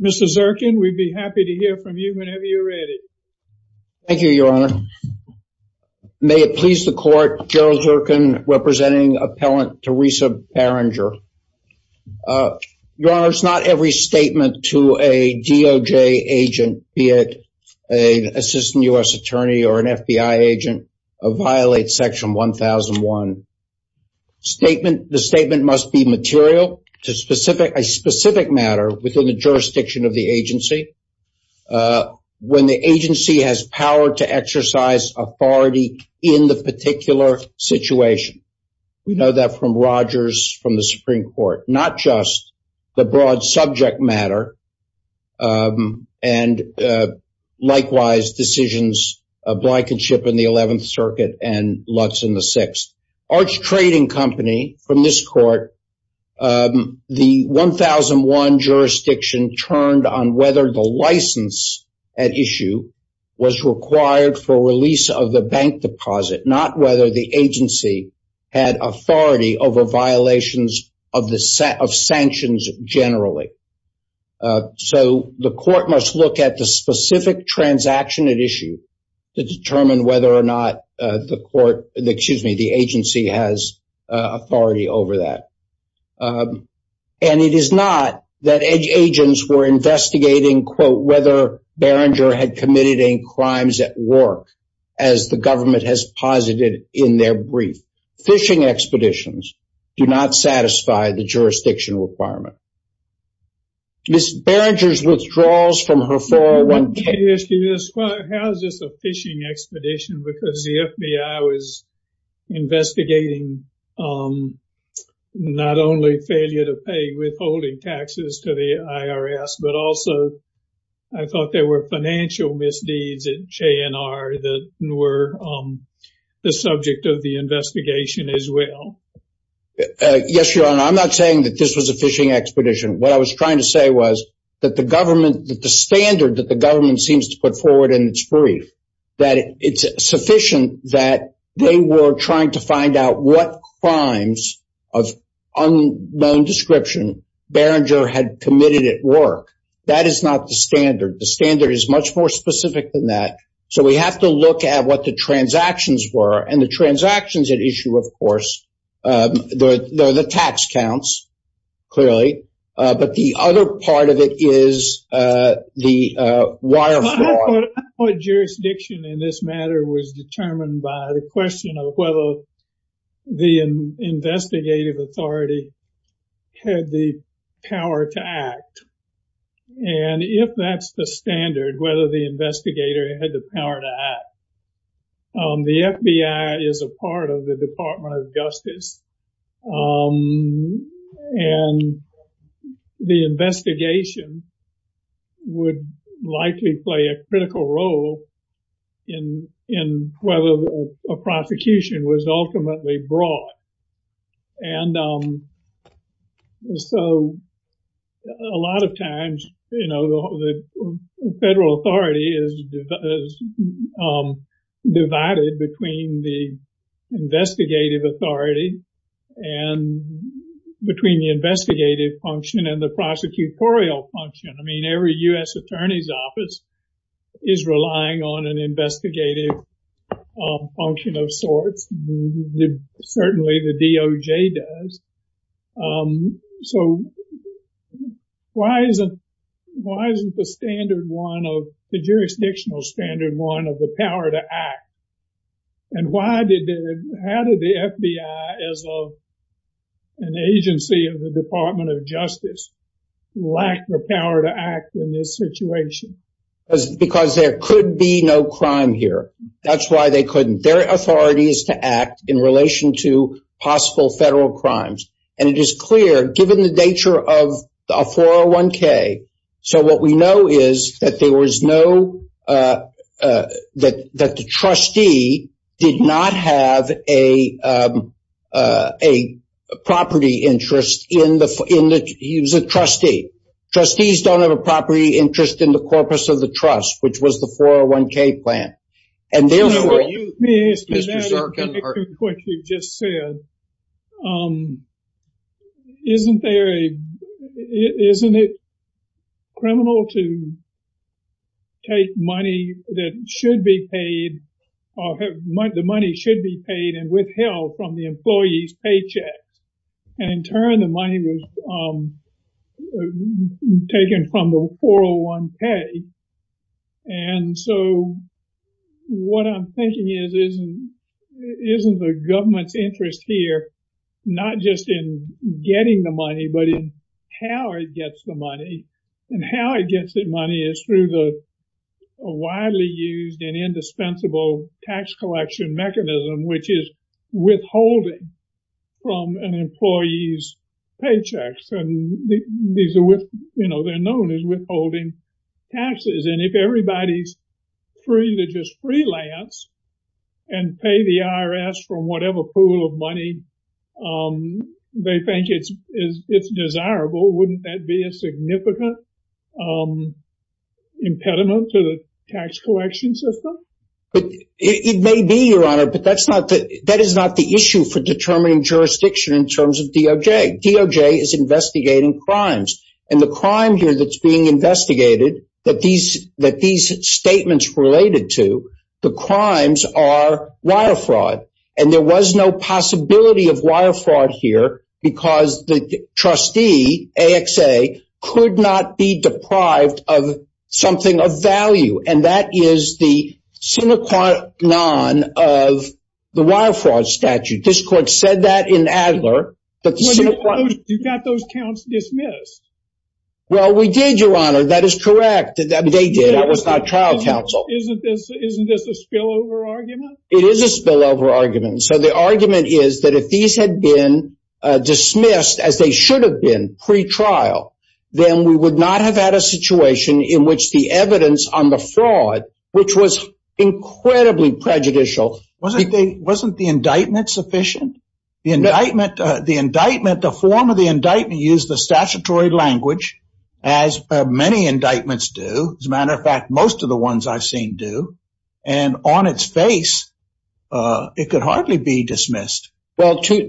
Mr. Zirkin, we'd be happy to hear from you whenever you're ready. Thank you, Your Honor. May it please the Court, Gerald Zirkin representing appellant Teresa Barringer. Your Honor, it's not every statement to a DOJ agent, be it an assistant U.S. attorney or an FBI agent, violates Section 1001. The statement must be material to a specific matter within the jurisdiction of the agency, when the agency has power to exercise authority in the particular situation. We know that from Rogers, from the Supreme Court. Not just the broad subject matter, and likewise decisions of Blikenship in the 11th Circuit and Lutz in the 6th. Arch Trading Company, from this Court, the 1001 jurisdiction turned on whether the license at issue was required for release of the bank deposit. Not whether the agency had authority over violations of sanctions generally. So the Court must look at the specific transaction at issue to determine whether or not the agency has authority over that. And it is not that agents were investigating, quote, whether Barringer had committed any crimes at work, as the government has posited in their brief. Phishing expeditions do not satisfy the jurisdiction requirement. Ms. Barringer's withdrawals from her 401k... Well, how is this a phishing expedition? Because the FBI was investigating not only failure to pay withholding taxes to the IRS, but also I thought there were financial misdeeds at JNR that were the subject of the investigation as well. Yes, Your Honor, I'm not saying that this was a phishing expedition. What I was trying to say was that the government, that the standard that the government seems to put forward in its brief, that it's sufficient that they were trying to find out what crimes of unknown description Barringer had committed at work. That is not the standard. The standard is much more specific than that. So we have to look at what the transactions were. And the transactions at issue, of course, the tax counts, clearly. But the other part of it is the wire fraud. I thought jurisdiction in this matter was determined by the question of whether the investigative authority had the power to act. And if that's the standard, whether the investigator had the power to act. The FBI is a part of the Department of Justice. And the investigation would likely play a critical role in whether a prosecution was ultimately brought. And so a lot of times, you know, the federal authority is divided between the investigative authority and between the investigative function and the prosecutorial function. I mean, every U.S. attorney's office is relying on an investigative function of sorts. Certainly the DOJ does. So why isn't the standard one of the jurisdictional standard one of the power to act? And why did the FBI as an agency of the Department of Justice lack the power to act in this situation? Because there could be no crime here. That's why they couldn't. Their authority is to act in relation to possible federal crimes. And it is clear, given the nature of 401K, so what we know is that there was no – that the trustee did not have a property interest in the – he was a trustee. Trustees don't have a property interest in the corpus of the trust, which was the 401K plan. Let me ask you what you just said. Isn't there a – isn't it criminal to take money that should be paid or the money should be paid and withheld from the employee's paycheck? And in turn, the money was taken from the 401K. And so what I'm thinking is, isn't the government's interest here not just in getting the money but in how it gets the money? And how it gets the money is through the widely used and indispensable tax collection mechanism, which is withholding from an employee's paychecks. You know, they're known as withholding taxes. And if everybody's free to just freelance and pay the IRS from whatever pool of money they think it's desirable, wouldn't that be a significant impediment to the tax collection system? It may be, Your Honor, but that is not the issue for determining jurisdiction in terms of DOJ. DOJ is investigating crimes. And the crime here that's being investigated that these statements related to, the crimes are wire fraud. And there was no possibility of wire fraud here because the trustee, AXA, could not be deprived of something of value. And that is the sine qua non of the wire fraud statute. This court said that in Adler. You got those counts dismissed. Well, we did, Your Honor. That is correct. They did. That was not trial counsel. Isn't this a spillover argument? It is a spillover argument. So the argument is that if these had been dismissed as they should have been pre-trial, then we would not have had a situation in which the evidence on the fraud, which was incredibly prejudicial. Wasn't the indictment sufficient? The indictment, the form of the indictment used the statutory language, as many indictments do. As a matter of fact, most of the ones I've seen do. And on its face, it could hardly be dismissed. The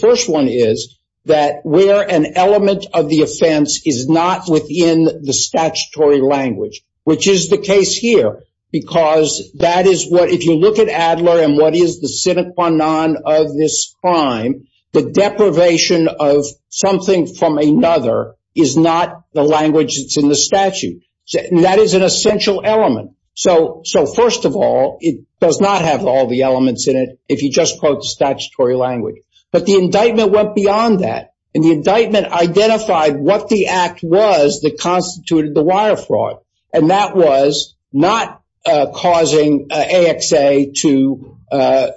first one is that where an element of the offense is not within the statutory language, which is the case here. Because that is what if you look at Adler and what is the sine qua non of this crime, the deprivation of something from another is not the language that's in the statute. That is an essential element. So first of all, it does not have all the elements in it if you just quote the statutory language. But the indictment went beyond that. And the indictment identified what the act was that constituted the wire fraud. And that was not causing AXA to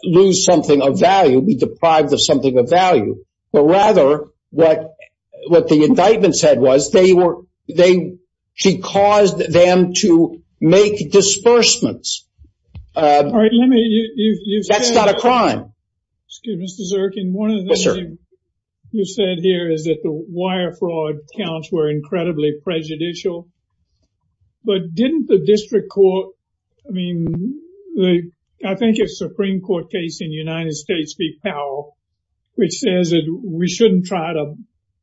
lose something of value, be deprived of something of value. But rather what the indictment said was they caused them to make disbursements. That's not a crime. Excuse me, Mr. Zirkin. Yes, sir. One of the things you said here is that the wire fraud counts were incredibly prejudicial. But didn't the district court, I mean, I think it's a Supreme Court case in the United States v. Powell, which says that we shouldn't try to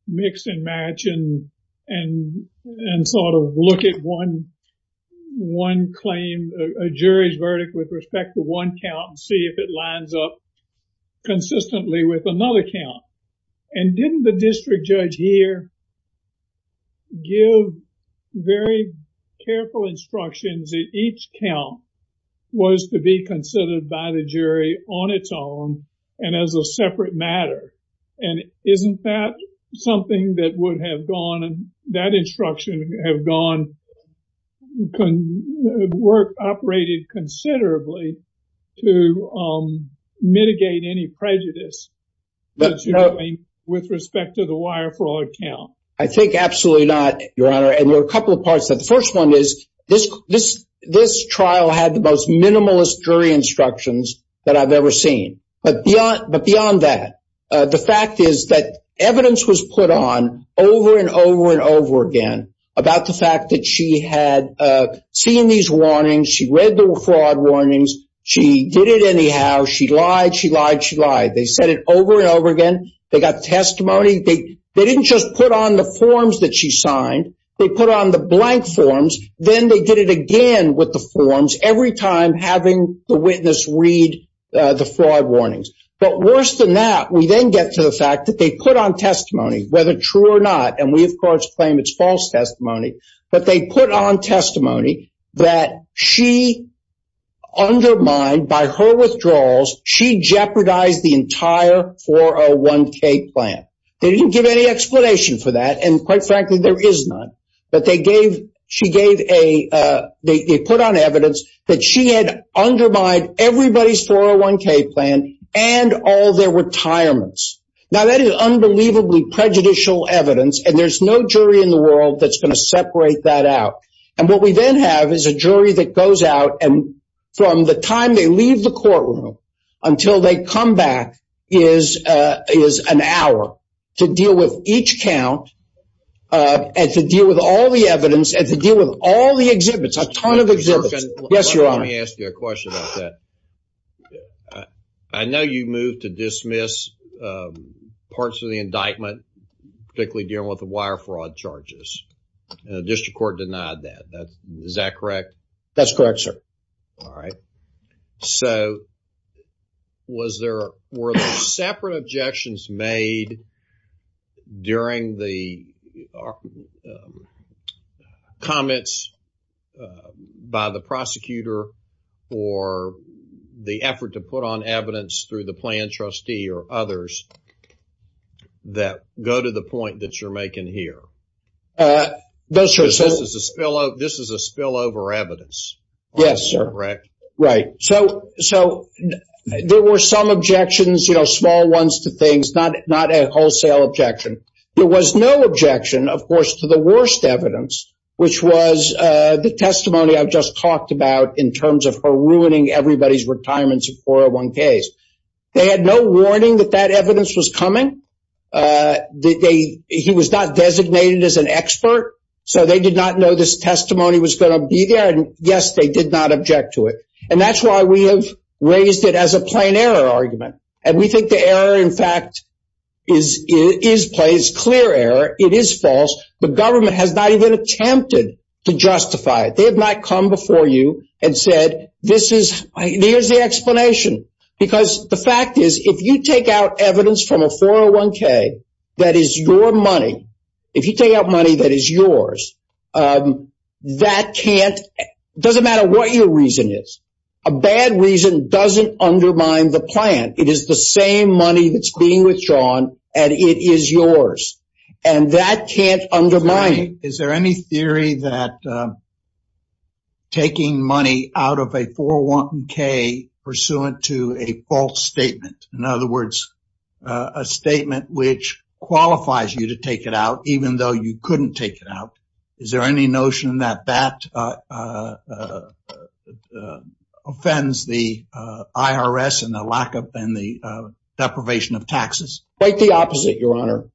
mix and match and sort of look at one claim, a jury's verdict with respect to one count and see if it lines up consistently with another count. And didn't the district judge here give very careful instructions that each count was to be considered by the jury on its own and as a separate matter? And isn't that something that would have gone, that instruction have gone, worked, operated considerably to mitigate any prejudice? With respect to the wire fraud count. I think absolutely not, Your Honor. And there are a couple of parts to that. The first one is this trial had the most minimalist jury instructions that I've ever seen. But beyond that, the fact is that evidence was put on over and over and over again about the fact that she had seen these warnings, she read the fraud warnings, she did it anyhow, she lied, she lied, she lied. They said it over and over again. They got testimony. They didn't just put on the forms that she signed. They put on the blank forms. Then they did it again with the forms every time having the witness read the fraud warnings. But worse than that, we then get to the fact that they put on testimony, whether true or not. And we, of course, claim it's false testimony. But they put on testimony that she undermined, by her withdrawals, she jeopardized the entire 401K plan. They didn't give any explanation for that. And quite frankly, there is none. But they gave, she gave a, they put on evidence that she had undermined everybody's 401K plan and all their retirements. Now, that is unbelievably prejudicial evidence. And there's no jury in the world that's going to separate that out. And what we then have is a jury that goes out and from the time they leave the courtroom until they come back is an hour to deal with each count and to deal with all the evidence and to deal with all the exhibits, a ton of exhibits. Yes, Your Honor. Let me ask you a question about that. I know you moved to dismiss parts of the indictment, particularly dealing with the wire fraud charges. And the district court denied that. Is that correct? That's correct, sir. All right. So, was there, were there separate objections made during the comments by the prosecutor for the effort to put on evidence through the plan trustee or others that go to the point that you're making here? Those are... This is a spillover evidence. Yes, sir. Correct? Right. So, there were some objections, you know, small ones to things, not a wholesale objection. There was no objection, of course, to the worst evidence, which was the testimony I've just talked about in terms of her ruining everybody's retirements in 401Ks. They had no warning that that evidence was coming. He was not designated as an expert. So, they did not know this testimony was going to be there. And, yes, they did not object to it. And that's why we have raised it as a plain error argument. And we think the error, in fact, is clear error. It is false. The government has not even attempted to justify it. They have not come before you and said this is, here's the explanation. Because the fact is, if you take out evidence from a 401K that is your money, if you take out money that is yours, that can't... It doesn't matter what your reason is. A bad reason doesn't undermine the plan. It is the same money that's being withdrawn, and it is yours. And that can't undermine it. Is there any theory that taking money out of a 401K pursuant to a false statement, in other words, a statement which qualifies you to take it out even though you couldn't take it out, is there any notion that that offends the IRS and the lack of and the deprivation of taxes? Quite the opposite, Your Honor.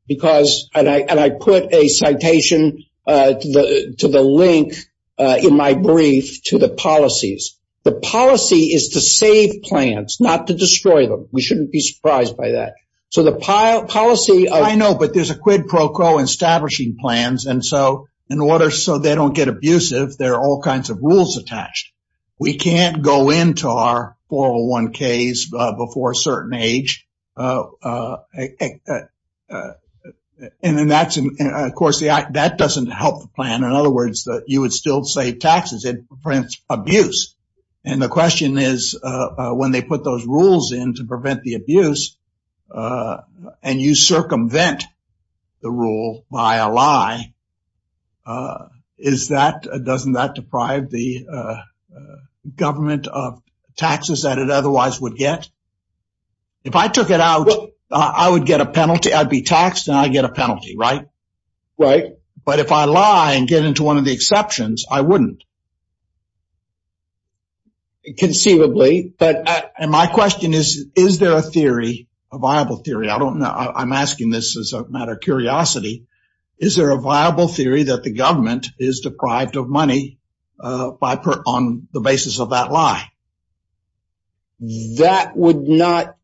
And I put a citation to the link in my brief to the policies. The policy is to save plans, not to destroy them. We shouldn't be surprised by that. So the policy... I know, but there's a quid pro quo in establishing plans. And so in order so they don't get abusive, there are all kinds of rules attached. We can't go into our 401Ks before a certain age. And, of course, that doesn't help the plan. In other words, you would still save taxes. It prevents abuse. And the question is when they put those rules in to prevent the abuse and you circumvent the rule by a lie, is that... doesn't that deprive the government of taxes that it otherwise would get? If I took it out, I would get a penalty. I'd be taxed and I'd get a penalty, right? Right. But if I lie and get into one of the exceptions, I wouldn't. Conceivably. And my question is, is there a theory, a viable theory? I don't know. I'm asking this as a matter of curiosity. Is there a viable theory that the government is deprived of money on the basis of that lie? That would not...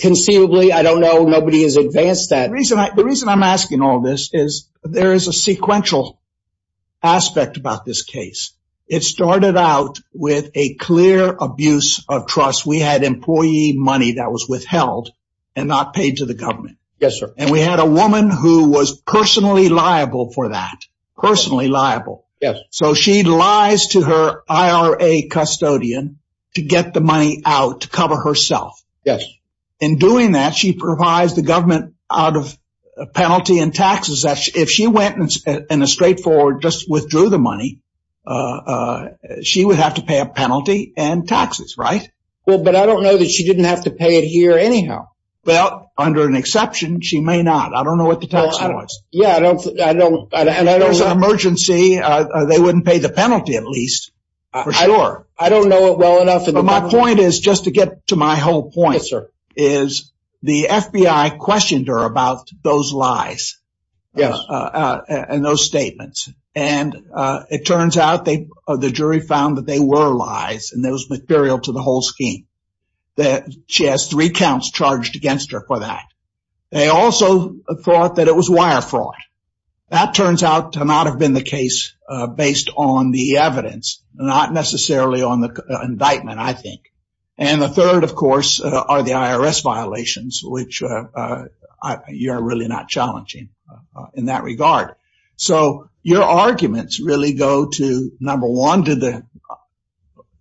Conceivably, I don't know. Nobody has advanced that. The reason I'm asking all this is there is a sequential aspect about this case. It started out with a clear abuse of trust. We had employee money that was withheld and not paid to the government. Yes, sir. And we had a woman who was personally liable for that. Personally liable. Yes. So she lies to her IRA custodian to get the money out to cover herself. Yes. In doing that, she provides the government out of penalty and taxes. If she went in a straightforward, just withdrew the money, she would have to pay a penalty and taxes, right? Well, but I don't know that she didn't have to pay it here anyhow. Well, under an exception, she may not. I don't know what the tax was. Yeah, I don't... If there was an emergency, they wouldn't pay the penalty at least, for sure. I don't know it well enough. My point is, just to get to my whole point, is the FBI questioned her about those lies and those statements. And it turns out the jury found that they were lies and that was material to the whole scheme. She has three counts charged against her for that. They also thought that it was wire fraud. That turns out to not have been the case based on the evidence, not necessarily on the indictment, I think. And the third, of course, are the IRS violations, which are really not challenging in that regard. So your arguments really go to, number one,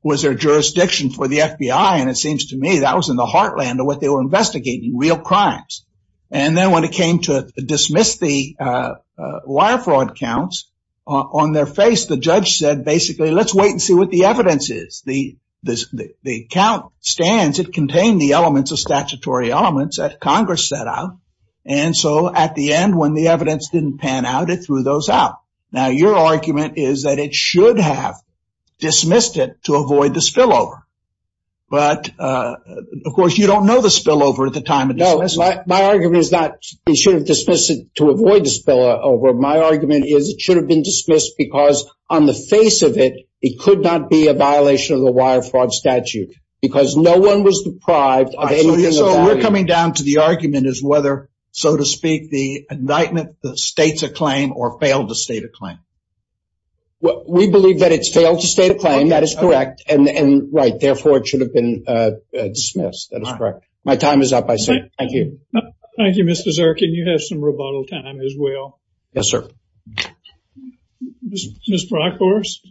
was there jurisdiction for the FBI? And it seems to me that was in the heartland of what they were investigating, real crimes. And then when it came to dismiss the wire fraud counts, on their face, the judge said, basically, let's wait and see what the evidence is. The count stands. It contained the elements of statutory elements that Congress set out. And so at the end, when the evidence didn't pan out, it threw those out. Now, your argument is that it should have dismissed it to avoid the spillover. But, of course, you don't know the spillover at the time of dismissal. My argument is not it should have dismissed it to avoid the spillover. My argument is it should have been dismissed because on the face of it, it could not be a violation of the wire fraud statute. Because no one was deprived of anything of value. So we're coming down to the argument as whether, so to speak, the indictment states a claim or failed to state a claim. We believe that it's failed to state a claim. That is correct. And, right, therefore, it should have been dismissed. That is correct. My time is up. Thank you. Thank you, Mr. Zirkin. You have some rebuttal time as well. Yes, sir. Ms. Brockhorst.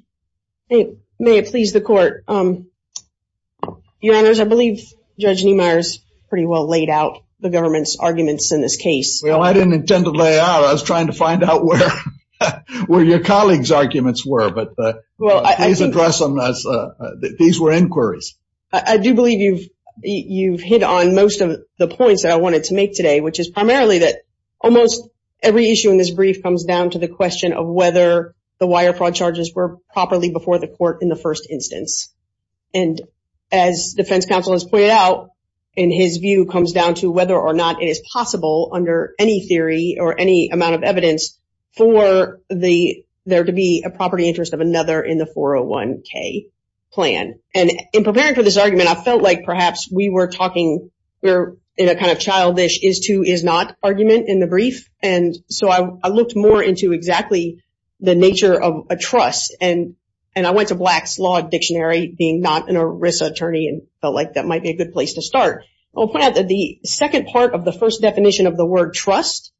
May it please the Court. Your Honors, I believe Judge Niemeyer has pretty well laid out the government's arguments in this case. Well, I didn't intend to lay out. I was trying to find out where your colleagues' arguments were. But please address them as these were inquiries. I do believe you've hit on most of the points that I wanted to make today, which is primarily that almost every issue in this brief comes down to the question of whether the wire fraud charges were properly before the court in the first instance. And as defense counsel has pointed out, in his view, comes down to whether or not it is possible under any theory or any amount of evidence for there to be a property interest of another in the 401k plan. And in preparing for this argument, I felt like perhaps we were talking in a kind of childish is-to-is-not argument in the brief. And so I looked more into exactly the nature of a trust. And I went to Black's Law Dictionary, being not an ERISA attorney, and felt like that might be a good place to start. I'll point out that the second part of the first definition of the word trust,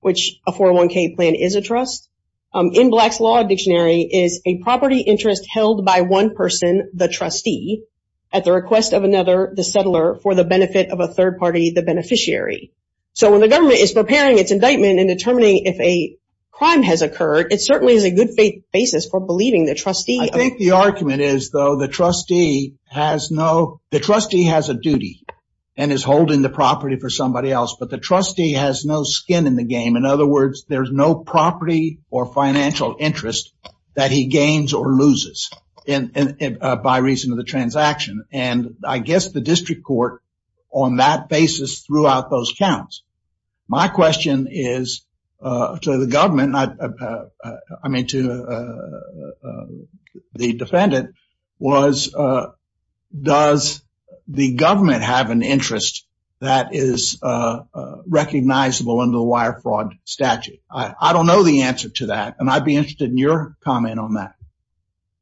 which a 401k plan is a trust, in Black's Law Dictionary is a property interest held by one person, the trustee, at the request of another, the settler, for the benefit of a third party, the beneficiary. So when the government is preparing its indictment and determining if a crime has occurred, it certainly is a good basis for believing the trustee. I think the argument is, though, the trustee has no, the trustee has a duty and is holding the property for somebody else. But the trustee has no skin in the game. In other words, there's no property or financial interest that he gains or loses by reason of the transaction. And I guess the district court, on that basis, threw out those counts. My question is to the government, I mean, to the defendant, was, does the government have an interest that is recognizable under the wire fraud statute? I don't know the answer to that. And I'd be interested in your comment on that.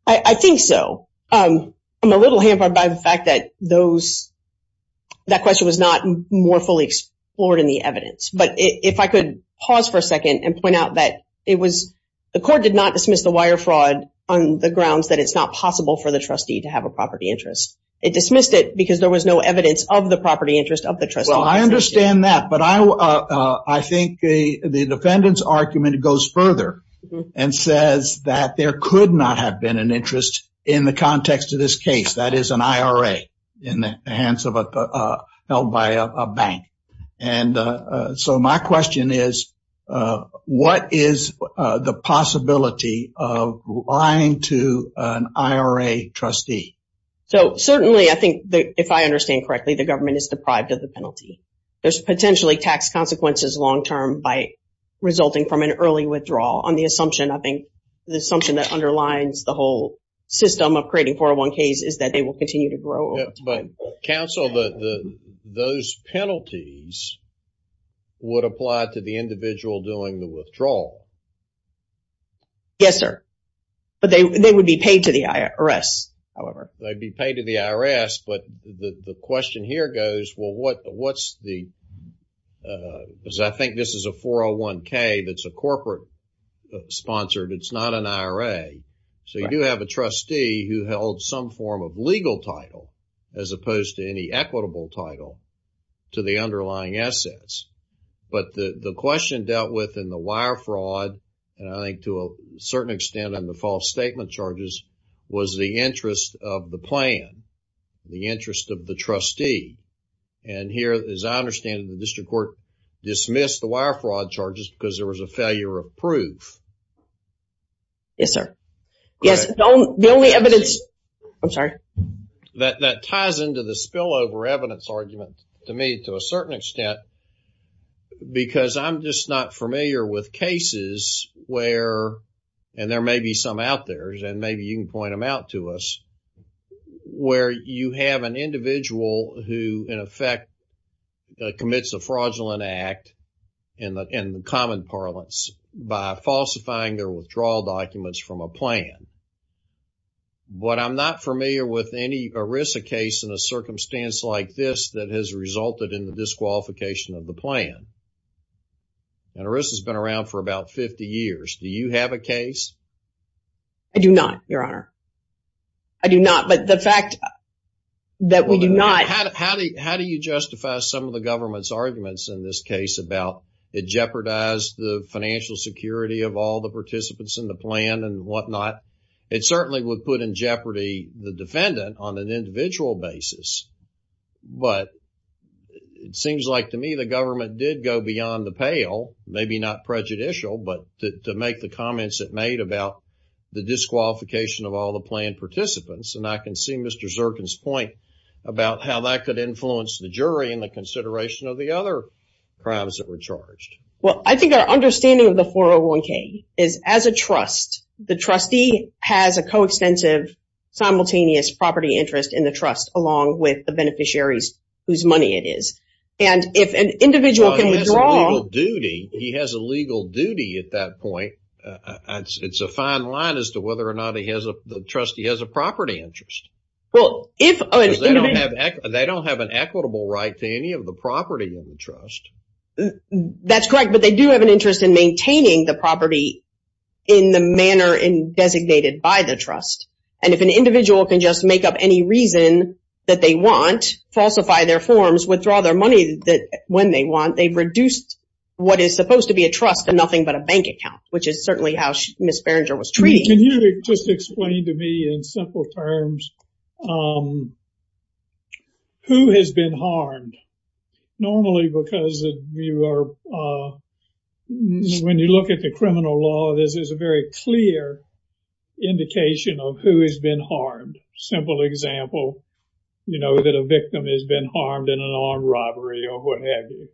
I think so. I'm a little hampered by the fact that those, that question was not more fully explored in the evidence. But if I could pause for a second and point out that it was, the court did not dismiss the wire fraud on the grounds that it's not possible for the trustee to have a property interest. It dismissed it because there was no evidence of the property interest of the trustee. Well, I understand that. But I think the defendant's argument goes further and says that there could not have been an interest in the context of this case. That is an IRA in the hands of a held by a bank. And so my question is, what is the possibility of lying to an IRA trustee? So certainly, I think, if I understand correctly, the government is deprived of the penalty. There's potentially tax consequences long term by resulting from an early withdrawal. On the assumption, I think, the assumption that underlines the whole system of creating 401ks is that they will continue to grow over time. But counsel, those penalties would apply to the individual doing the withdrawal. Yes, sir. But they would be paid to the IRS, however. They'd be paid to the IRS. But the question here goes, well, what's the, because I think this is a 401k that's a corporate sponsored, it's not an IRA. So you do have a trustee who held some form of legal title as opposed to any equitable title to the underlying assets. But the question dealt with in the wire fraud, and I think to a certain extent in the false statement charges, was the interest of the plan, the interest of the trustee. And here, as I understand it, the district court dismissed the wire fraud charges because there was a failure of proof. Yes, sir. Yes, the only evidence. I'm sorry. That ties into the spillover evidence argument to me to a certain extent. Because I'm just not familiar with cases where, and there may be some out there, and maybe you can point them out to us, where you have an individual who, in effect, commits a fraudulent act in the common parlance by falsifying their withdrawal documents from a plan. But I'm not familiar with any ERISA case in a circumstance like this that has resulted in the disqualification of the plan. And ERISA's been around for about 50 years. Do you have a case? I do not, Your Honor. I do not. But the fact that we do not. How do you justify some of the government's arguments in this case about it jeopardized the financial security of all the participants in the plan and whatnot? It certainly would put in jeopardy the defendant on an individual basis. But it seems like to me the government did go beyond the pale, maybe not prejudicial, but to make the comments it made about the disqualification of all the plan participants. And I can see Mr. Zirkin's point about how that could influence the jury in the consideration of the other crimes that were charged. Well, I think our understanding of the 401k is, as a trust, the trustee has a coextensive, simultaneous property interest in the trust, along with the beneficiaries whose money it is. And if an individual can withdraw... They don't have an equitable right to any of the property in the trust. That's correct, but they do have an interest in maintaining the property in the manner designated by the trust. And if an individual can just make up any reason that they want, falsify their forms, withdraw their money when they want, they've reduced what is supposed to be a trust to nothing but a bank account, which is certainly how Ms. Berenger was treating it. Can you just explain to me in simple terms who has been harmed? Normally, because when you look at the criminal law, this is a very clear indication of who has been harmed. Simple example, you know, that a victim has been harmed in an armed robbery or what have you.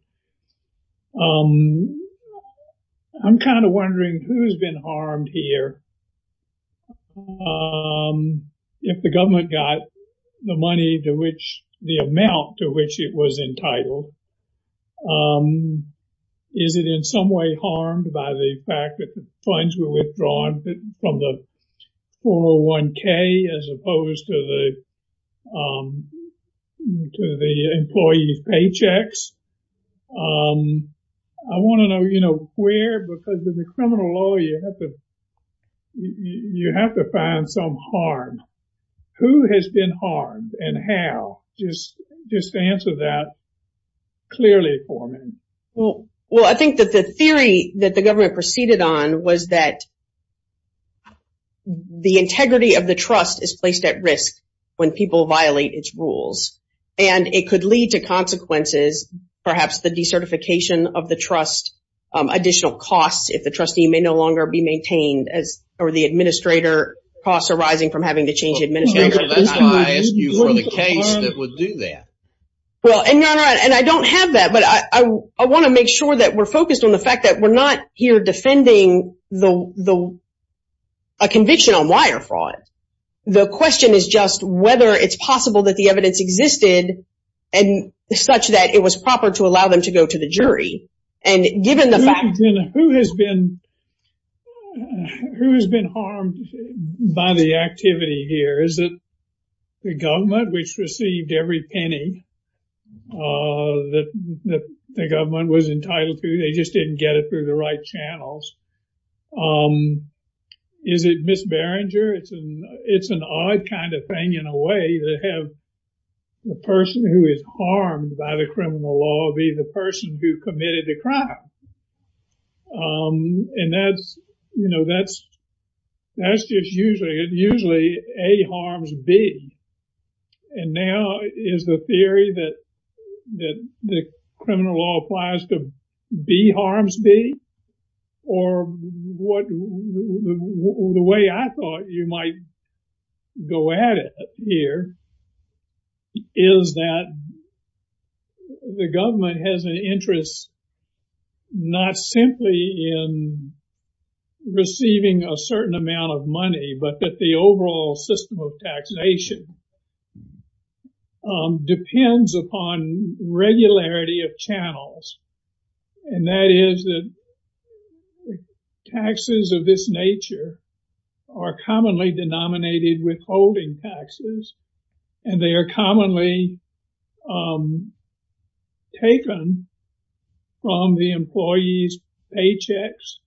I'm kind of wondering who's been harmed here. If the government got the money to which the amount to which it was entitled, is it in some way harmed by the fact that the funds were withdrawn from the 401k as opposed to the employees' paychecks? I want to know, you know, where, because in the criminal law, you have to find some harm. Who has been harmed and how? Just answer that clearly for me. Well, I think that the theory that the government proceeded on was that the integrity of the trust is placed at risk when people violate its rules. And it could lead to consequences, perhaps the decertification of the trust, additional costs, if the trustee may no longer be maintained or the administrator costs arising from having to change the administrator. I ask you for the case that would do that. And I don't have that, but I want to make sure that we're focused on the fact that we're not here defending a conviction on wire fraud. The question is just whether it's possible that the evidence existed and such that it was proper to allow them to go to the jury. And given the fact. Who has been harmed by the activity here? Is it the government, which received every penny that the government was entitled to? They just didn't get it through the right channels. Is it Miss Berenger? It's an odd kind of thing in a way to have the person who is harmed by the criminal law be the person who committed the crime. And that's, you know, that's that's just usually it usually A harms B. And now is the theory that that the criminal law applies to B harms B? Or what? The way I thought you might go at it here. Is that. The government has an interest. Not simply in. Receiving a certain amount of money, but that the overall system of taxation. Depends upon regularity of channels. And that is that. Taxes of this nature. Are commonly denominated withholding taxes. And they are commonly. Taken. From the employees paychecks.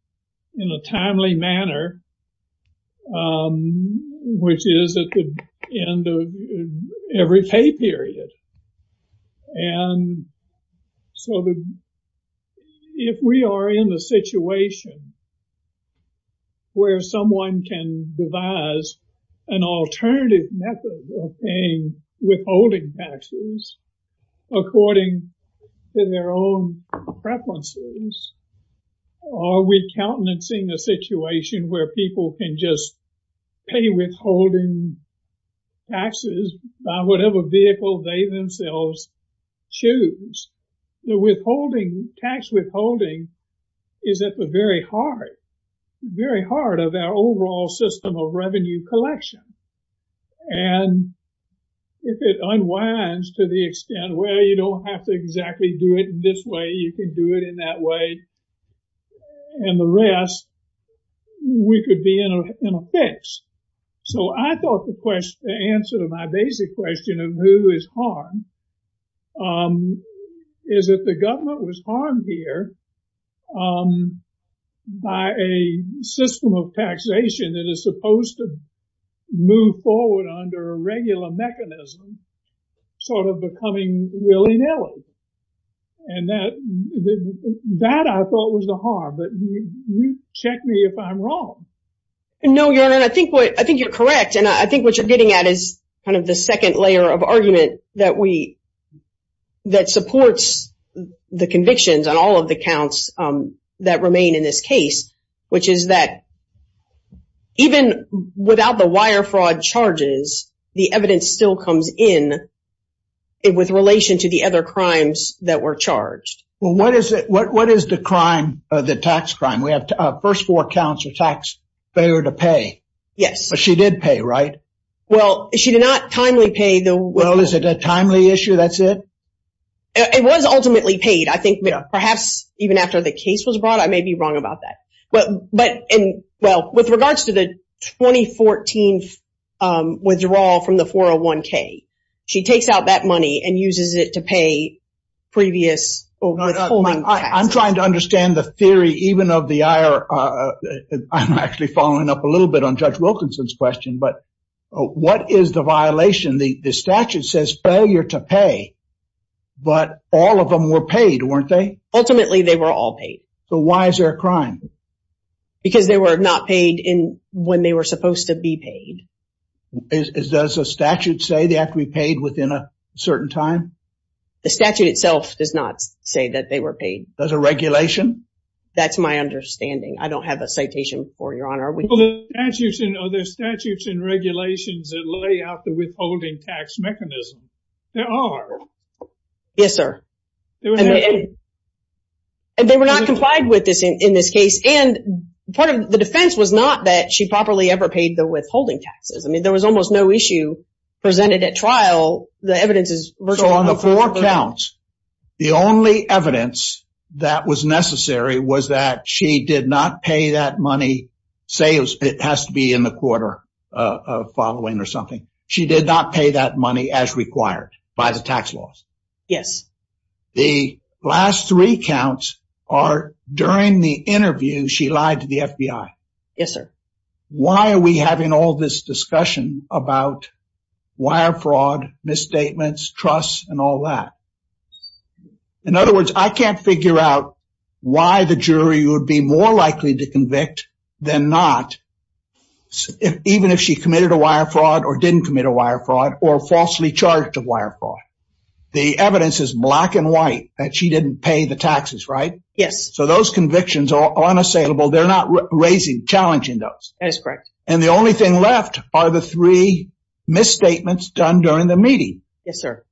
In a timely manner. Which is at the end of every pay period. And so. If we are in the situation. Where someone can devise an alternative method of paying withholding taxes. According to their own preferences. Are we countenancing a situation where people can just. Pay withholding. Taxes by whatever vehicle they themselves. Choose. The withholding tax withholding. Is at the very heart. Very hard of our overall system of revenue collection. And. If it unwinds to the extent where you don't have to exactly do it. This way, you can do it in that way. And the rest. We could be in a fix. So I thought the question. Answer to my basic question of who is. Is that the government was harmed here. By a system of taxation. That is supposed to move forward under a regular mechanism. Sort of becoming willy-nilly. And that. That I thought was the harm. Check me if I'm wrong. No, your honor. I think what I think you're correct. And I think what you're getting at is. Kind of the second layer of argument that we. That supports the convictions on all of the counts. That remain in this case. Which is that. Even without the wire fraud charges. The evidence still comes in. And with relation to the other crimes that were charged. Well, what is it? What is the crime of the tax crime? We have our first four counts of tax. They were to pay. Yes, she did pay, right? Well, she did not timely pay the. Is it a timely issue? That's it. It was ultimately paid. I think. Perhaps even after the case was brought. I may be wrong about that. But. Well, with regards to the 2014. Withdrawal from the 401k. She takes out that money and uses it to pay. Previous. I'm trying to understand the theory, even of the. I'm actually following up a little bit on judge Wilkinson's question, but. What is the violation? The statute says failure to pay. But all of them were paid, weren't they? Ultimately, they were all paid. So, why is there a crime? Because they were not paid in when they were supposed to be paid. Does the statute say they have to be paid within a certain time? The statute itself does not say that they were paid. There's a regulation? That's my understanding. I don't have a citation for your honor. Well, there's statutes and regulations that lay out the withholding tax mechanism. There are. Yes, sir. And they were not complied with this in this case. And part of the defense was not that she properly ever paid the withholding taxes. I mean, there was almost no issue presented at trial. The evidence is. So, on the four counts. The only evidence that was necessary was that she did not pay that money. Say it has to be in the quarter of following or something. She did not pay that money as required by the tax laws. Yes. The last three counts are during the interview she lied to the FBI. Yes, sir. Why are we having all this discussion about wire fraud, misstatements, trust, and all that? In other words, I can't figure out why the jury would be more likely to convict than not. Even if she committed a wire fraud or didn't commit a wire fraud or falsely charged a wire fraud. The evidence is black and white that she didn't pay the taxes, right? Yes. So, those convictions are unassailable. They're not raising challenging those. That is correct. And the only thing left are the three misstatements done during the meeting. Yes, sir.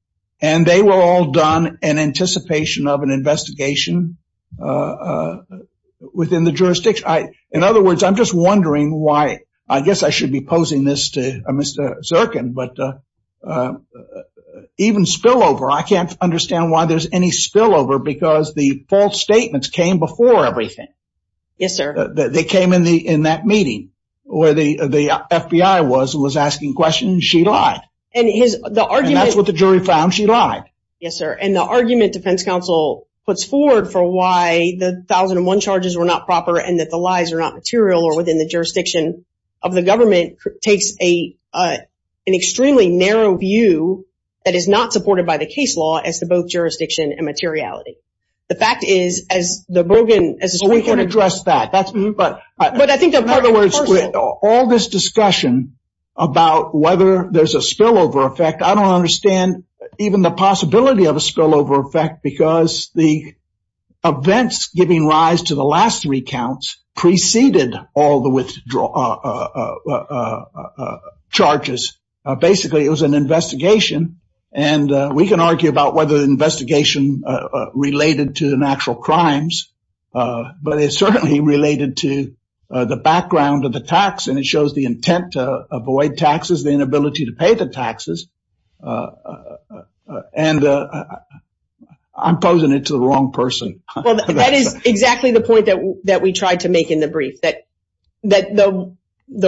And they were all done in anticipation of an investigation within the jurisdiction. In other words, I'm just wondering why. I guess I should be posing this to Mr. Zirkin, but even spillover, I can't understand why there's any spillover because the false statements came before everything. Yes, sir. They came in that meeting where the FBI was asking questions. She lied. And that's what the jury found. She lied. Yes, sir. And the argument defense counsel puts forward for why the 1001 charges were not proper and that the lies are not material or within the jurisdiction of the government, takes an extremely narrow view that is not supported by the case law as to both jurisdiction and materiality. The fact is, as the Bergen, as the Supreme Court- We can address that. But I think- In other words, with all this discussion about whether there's a spillover effect, I don't understand even the possibility of a spillover effect because the events giving rise to the last three counts preceded all the withdraw- charges. Basically, it was an investigation. And we can argue about whether the investigation related to the natural crimes. But it certainly related to the background of the tax, and it shows the intent to avoid taxes, the inability to pay the taxes. And I'm posing it to the wrong person. That is exactly the point that we tried to make in the brief, that the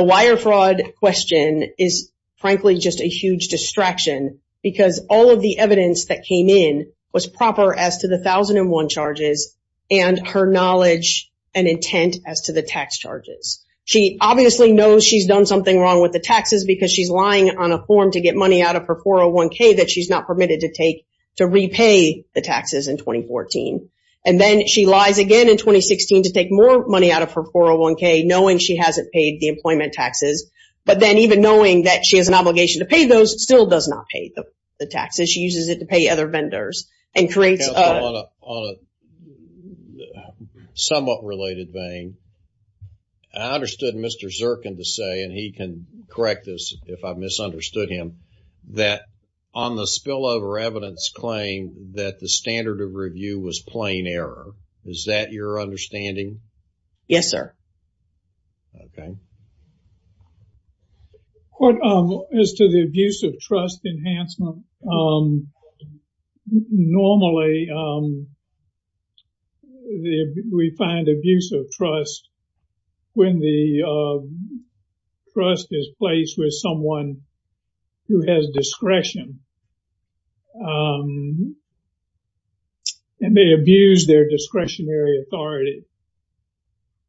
wire fraud question is, frankly, just a huge distraction because all of the evidence that came in was proper as to the 1001 charges and her knowledge and intent as to the tax charges. She obviously knows she's done something wrong with the taxes because she's lying on a form to get money out of her 401k that she's not permitted to take to repay the taxes in 2014. And then she lies again in 2016 to take more money out of her 401k, knowing she hasn't paid the employment taxes, but then even knowing that she has an obligation to pay those, still does not pay the taxes. She uses it to pay other vendors and creates a- I understood Mr. Zirkin to say, and he can correct this if I've misunderstood him, that on the spillover evidence claim that the standard of review was plain error. Is that your understanding? Yes, sir. Okay. As to the abuse of trust enhancement, normally we find abuse of trust when the trust is placed with someone who has discretion and they abuse their discretionary authority.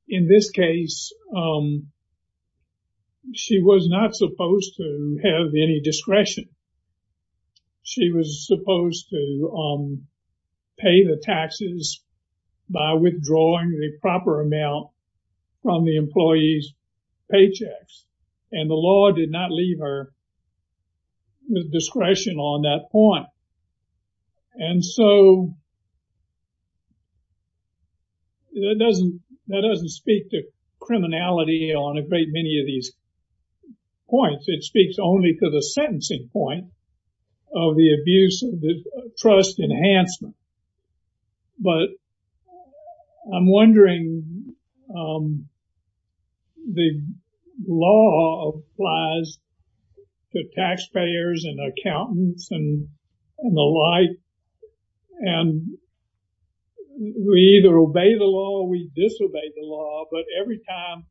In this case, she was not supposed to have any discretion. She was supposed to pay the taxes by withdrawing the proper amount from the employee's paychecks. And the law did not leave her with discretion on that point. And so that doesn't speak to criminality on a great many of these points. It speaks only to the sentencing point of the abuse of trust enhancement. But I'm wondering, the law applies to taxpayers and accountants and the like, and we either obey the law or we disobey the law, but every time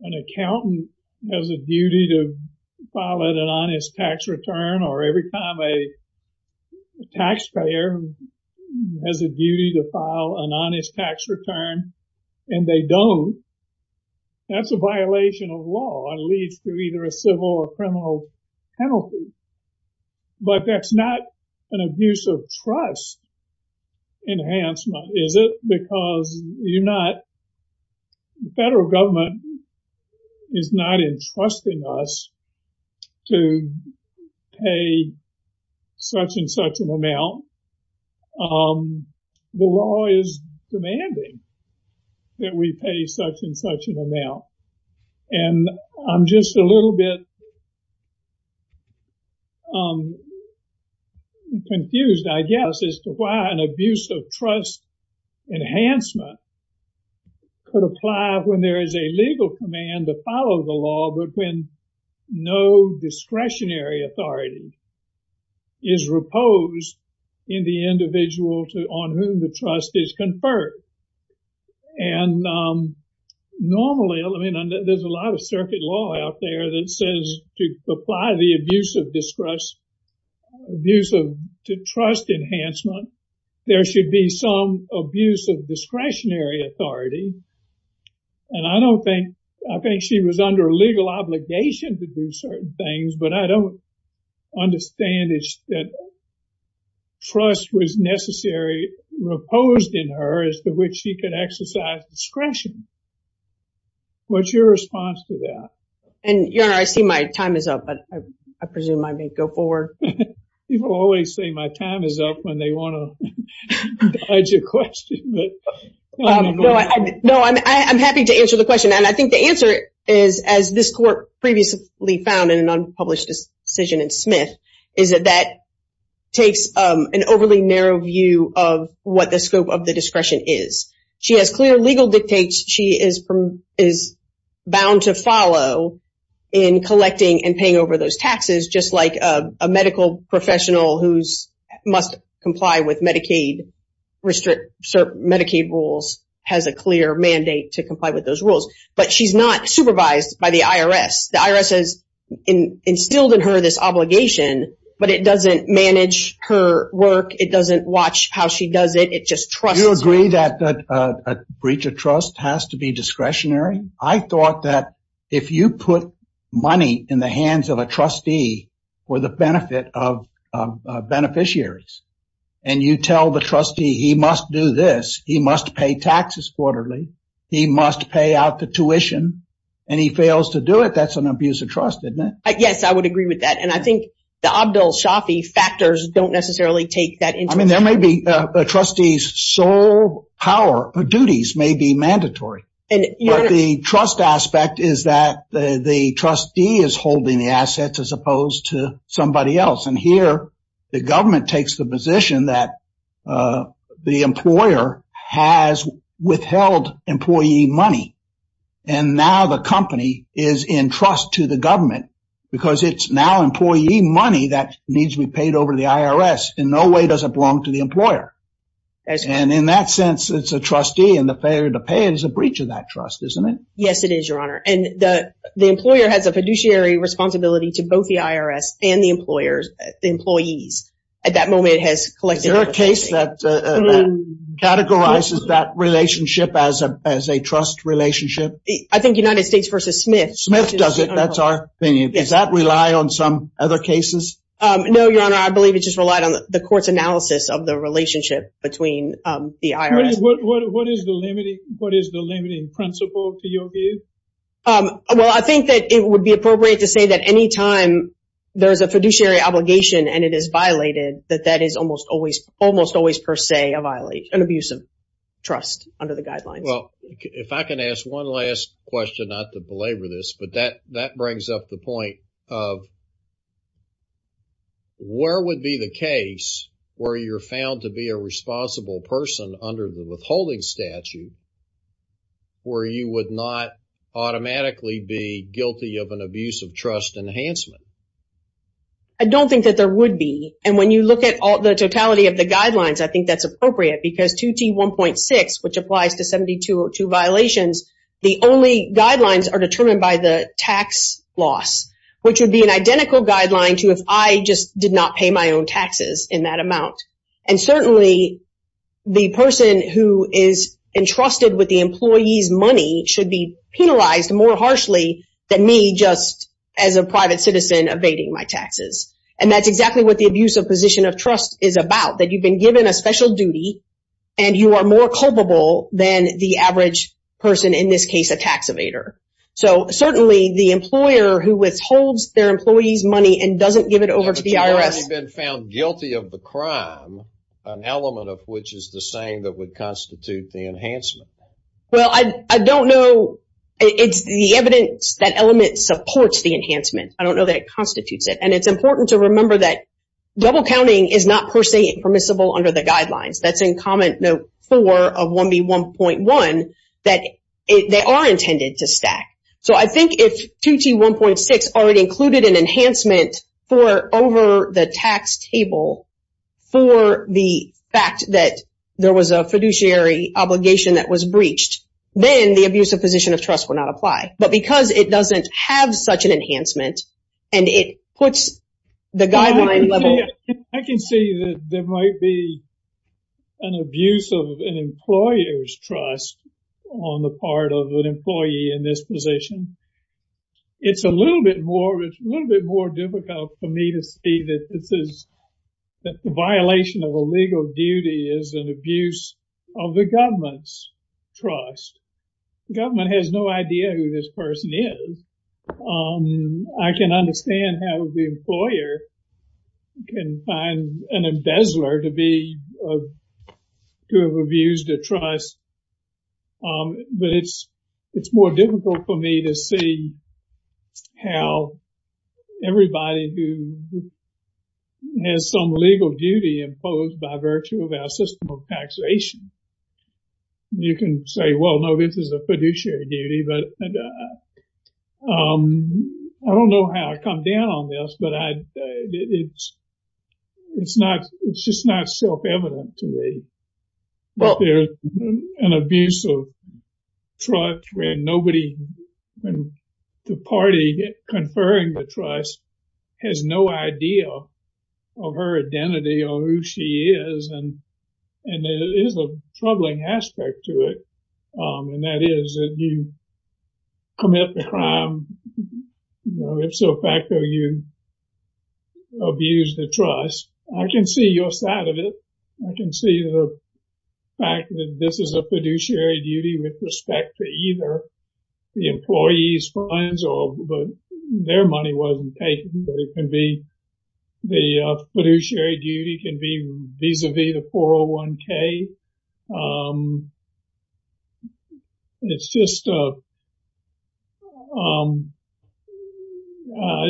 an accountant has a duty to file an honest tax return or every time a taxpayer has a duty to file an honest tax return and they don't, that's a violation of law and leads to either a civil or criminal penalty. But that's not an abuse of trust enhancement, is it? Because the federal government is not entrusting us to pay such and such an amount. The law is demanding that we pay such and such an amount. And I'm just a little bit confused, I guess, as to why an abuse of trust enhancement could apply when there is a legal command to follow the law, but when no discretionary authority is reposed in the individual on whom the trust is conferred. And normally, I mean, there's a lot of circuit law out there that says to apply the abuse of trust enhancement, there should be some abuse of discretionary authority. And I don't think, I think she was under legal obligation to do certain things, but I don't understand that trust was necessary, reposed in her as to which she could exercise discretion. What's your response to that? And, Your Honor, I see my time is up, but I presume I may go forward. People always say my time is up when they want to dodge a question. No, I'm happy to answer the question. And I think the answer is, as this court previously found in an unpublished decision in Smith, is that that takes an overly narrow view of what the scope of the discretion is. She has clear legal dictates she is bound to follow in collecting and paying over those taxes, just like a medical professional who must comply with Medicaid rules has a clear mandate to comply with those rules. But she's not supervised by the IRS. The IRS has instilled in her this obligation, but it doesn't manage her work. It doesn't watch how she does it. It just trusts her. Do you agree that a breach of trust has to be discretionary? I thought that if you put money in the hands of a trustee for the benefit of beneficiaries and you tell the trustee he must do this, he must pay taxes quarterly, he must pay out the tuition, and he fails to do it, that's an abuse of trust, isn't it? Yes, I would agree with that. And I think the Abdul Shafi factors don't necessarily take that into account. I mean, there may be a trustee's sole power or duties may be mandatory. But the trust aspect is that the trustee is holding the assets as opposed to somebody else. And here the government takes the position that the employer has withheld employee money, and now the company is in trust to the government because it's now employee money that needs to be paid over to the IRS. In no way does it belong to the employer. And in that sense, it's a trustee, and the failure to pay it is a breach of that trust, isn't it? Yes, it is, Your Honor. And the employer has a fiduciary responsibility to both the IRS and the employees. At that moment, it has collected everything. Is there a case that categorizes that relationship as a trust relationship? I think United States v. Smith. Smith does it. That's our opinion. Does that rely on some other cases? No, Your Honor, I believe it just relied on the court's analysis of the relationship between the IRS. What is the limiting principle to your view? Well, I think that it would be appropriate to say that any time there is a fiduciary obligation and it is violated, that that is almost always per se a violation, an abuse of trust under the guidelines. Well, if I can ask one last question, not to belabor this, but that brings up the point of where would be the case where you're found to be a responsible person under the withholding statute where you would not automatically be guilty of an abuse of trust enhancement? I don't think that there would be. And when you look at the totality of the guidelines, I think that's appropriate because 2T1.6, which applies to 7202 violations, the only guidelines are determined by the tax loss, which would be an identical guideline to if I just did not pay my own taxes in that amount. And certainly the person who is entrusted with the employee's money should be penalized more harshly than me just as a private citizen evading my taxes. And that's exactly what the abuse of position of trust is about, that you've been given a special duty and you are more culpable than the average person, in this case, a tax evader. So certainly the employer who withholds their employee's money and doesn't give it over to the IRS. But you've already been found guilty of the crime, an element of which is the same that would constitute the enhancement. Well, I don't know. It's the evidence that element supports the enhancement. I don't know that it constitutes it. And it's important to remember that double counting is not per se permissible under the guidelines. That's in Comment Note 4 of 1B1.1 that they are intended to stack. So I think if 2T1.6 already included an enhancement for over the tax table for the fact that there was a fiduciary obligation that was breached, then the abuse of position of trust would not apply. But because it doesn't have such an enhancement and it puts the guideline level... I can see that there might be an abuse of an employer's trust on the part of an employee in this position. It's a little bit more difficult for me to see that this is a violation of a legal duty as an abuse of the government's trust. The government has no idea who this person is. I can understand how the employer can find an embezzler to have abused the trust. But it's more difficult for me to see how everybody who has some legal duty imposed by virtue of our system of taxation. You can say, well, no, this is a fiduciary duty. But I don't know how to come down on this, but it's just not self-evident to me. There's an abuse of trust where nobody in the party conferring the trust has no idea of her identity or who she is. And it is a troubling aspect to it. And that is that you commit the crime. If so, in fact, you abuse the trust. I can see your side of it. I can see the fact that this is a fiduciary duty with respect to either the employee's funds or their money wasn't taken. But it can be the fiduciary duty can be vis-a-vis the 401k. It's just I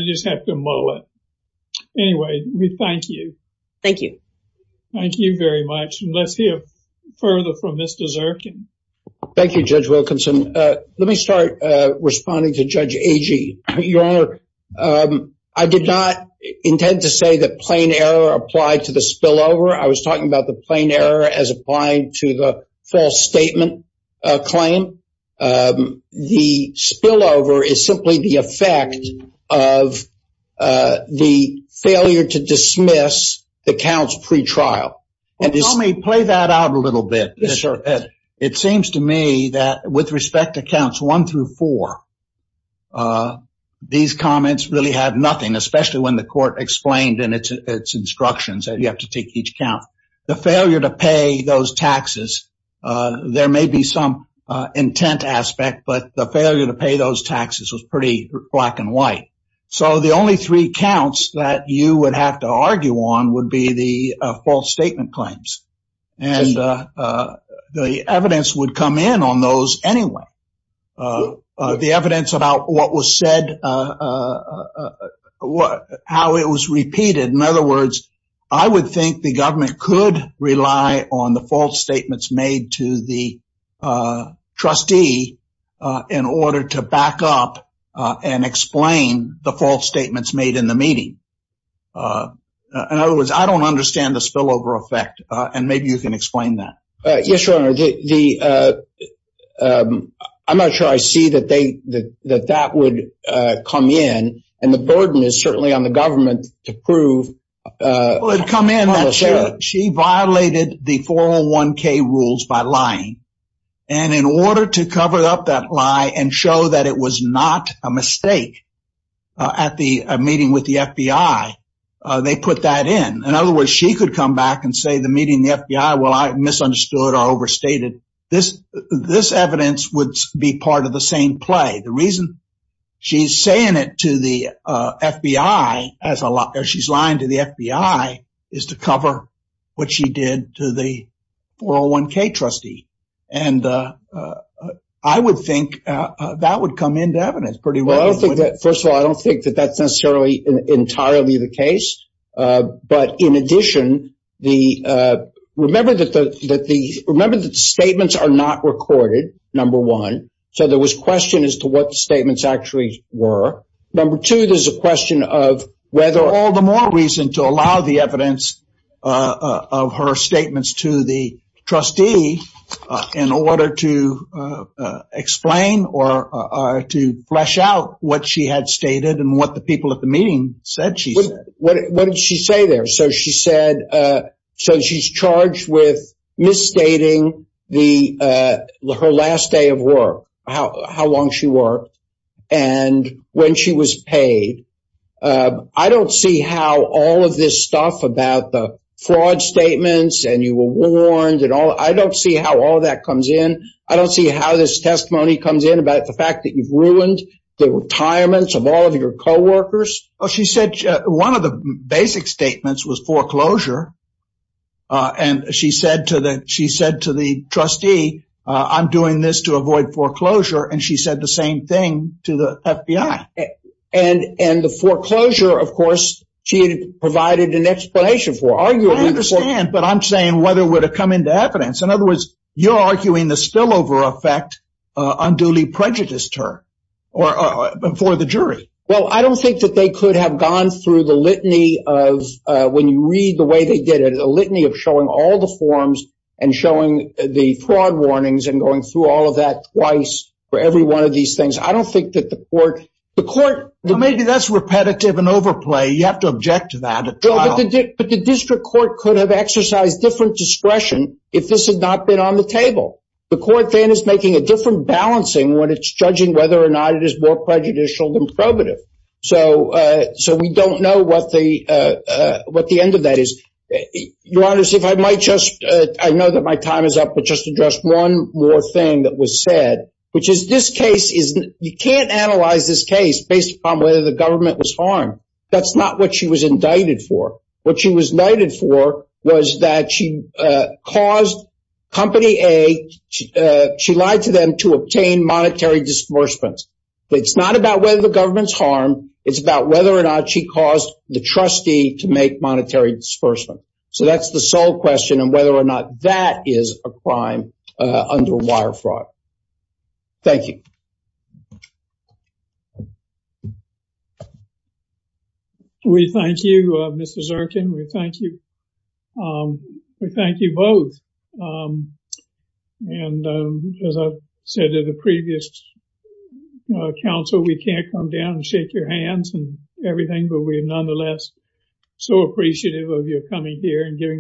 just have to mull it. Anyway, we thank you. Thank you. Thank you very much. And let's hear further from Mr. Zirkin. Thank you, Judge Wilkinson. Let me start responding to Judge Agee. Your Honor, I did not intend to say that plain error applied to the spillover. I was talking about the plain error as applying to the false statement claim. The spillover is simply the effect of the failure to dismiss the counts pre-trial. Tell me, play that out a little bit. Yes, sir. It seems to me that with respect to counts one through four, these comments really have nothing, especially when the court explained in its instructions that you have to take each count. The failure to pay those taxes, there may be some intent aspect, but the failure to pay those taxes was pretty black and white. So the only three counts that you would have to argue on would be the false statement claims. And the evidence would come in on those anyway. The evidence about what was said, how it was repeated. In other words, I would think the government could rely on the false statements made to the trustee in order to back up and explain the false statements made in the meeting. In other words, I don't understand the spillover effect, and maybe you can explain that. Yes, Your Honor. I'm not sure I see that that would come in, and the burden is certainly on the government to prove. It would come in that she violated the 401K rules by lying. And in order to cover up that lie and show that it was not a mistake at the meeting with the FBI, they put that in. In other words, she could come back and say the meeting with the FBI, well, I misunderstood or overstated. This evidence would be part of the same play. The reason she's saying it to the FBI as she's lying to the FBI is to cover what she did to the 401K trustee. And I would think that would come into evidence pretty well. I don't think that, first of all, I don't think that that's necessarily entirely the case. But in addition, remember that the statements are not recorded, number one. So there was question as to what the statements actually were. Number two, there's a question of whether or not. There's no reason to allow the evidence of her statements to the trustee in order to explain or to flesh out what she had stated and what the people at the meeting said she said. What did she say there? So she said so she's charged with misstating her last day of work, how long she worked and when she was paid. I don't see how all of this stuff about the fraud statements and you were warned and all. I don't see how all of that comes in. I don't see how this testimony comes in about the fact that you've ruined the retirements of all of your coworkers. She said one of the basic statements was foreclosure. And she said to that, she said to the trustee, I'm doing this to avoid foreclosure. And she said the same thing to the FBI. And the foreclosure, of course, she provided an explanation for. I understand. But I'm saying whether it would have come into evidence. In other words, you're arguing the spillover effect unduly prejudiced her or for the jury. Well, I don't think that they could have gone through the litany of when you read the way they did it, a litany of showing all the forms and showing the fraud warnings and going through all of that twice for every one of these things. I don't think that the court, the court. Maybe that's repetitive and overplay. You have to object to that. But the district court could have exercised different discretion if this had not been on the table. The court then is making a different balancing when it's judging whether or not it is more prejudicial than probative. So we don't know what the end of that is. Your Honor, if I might just, I know that my time is up, but just address one more thing that was said, which is this case is you can't analyze this case based on whether the government was harmed. That's not what she was indicted for. What she was indicted for was that she caused Company A, she lied to them to obtain monetary disbursements. It's not about whether the government's harmed. It's about whether or not she caused the trustee to make monetary disbursement. So that's the sole question and whether or not that is a crime under wire fraud. Thank you. We thank you, Mr. Zirkin. We thank you. We thank you both. And as I said to the previous counsel, we can't come down and shake your hands and everything, but we are nonetheless so appreciative of your coming here and giving us your time.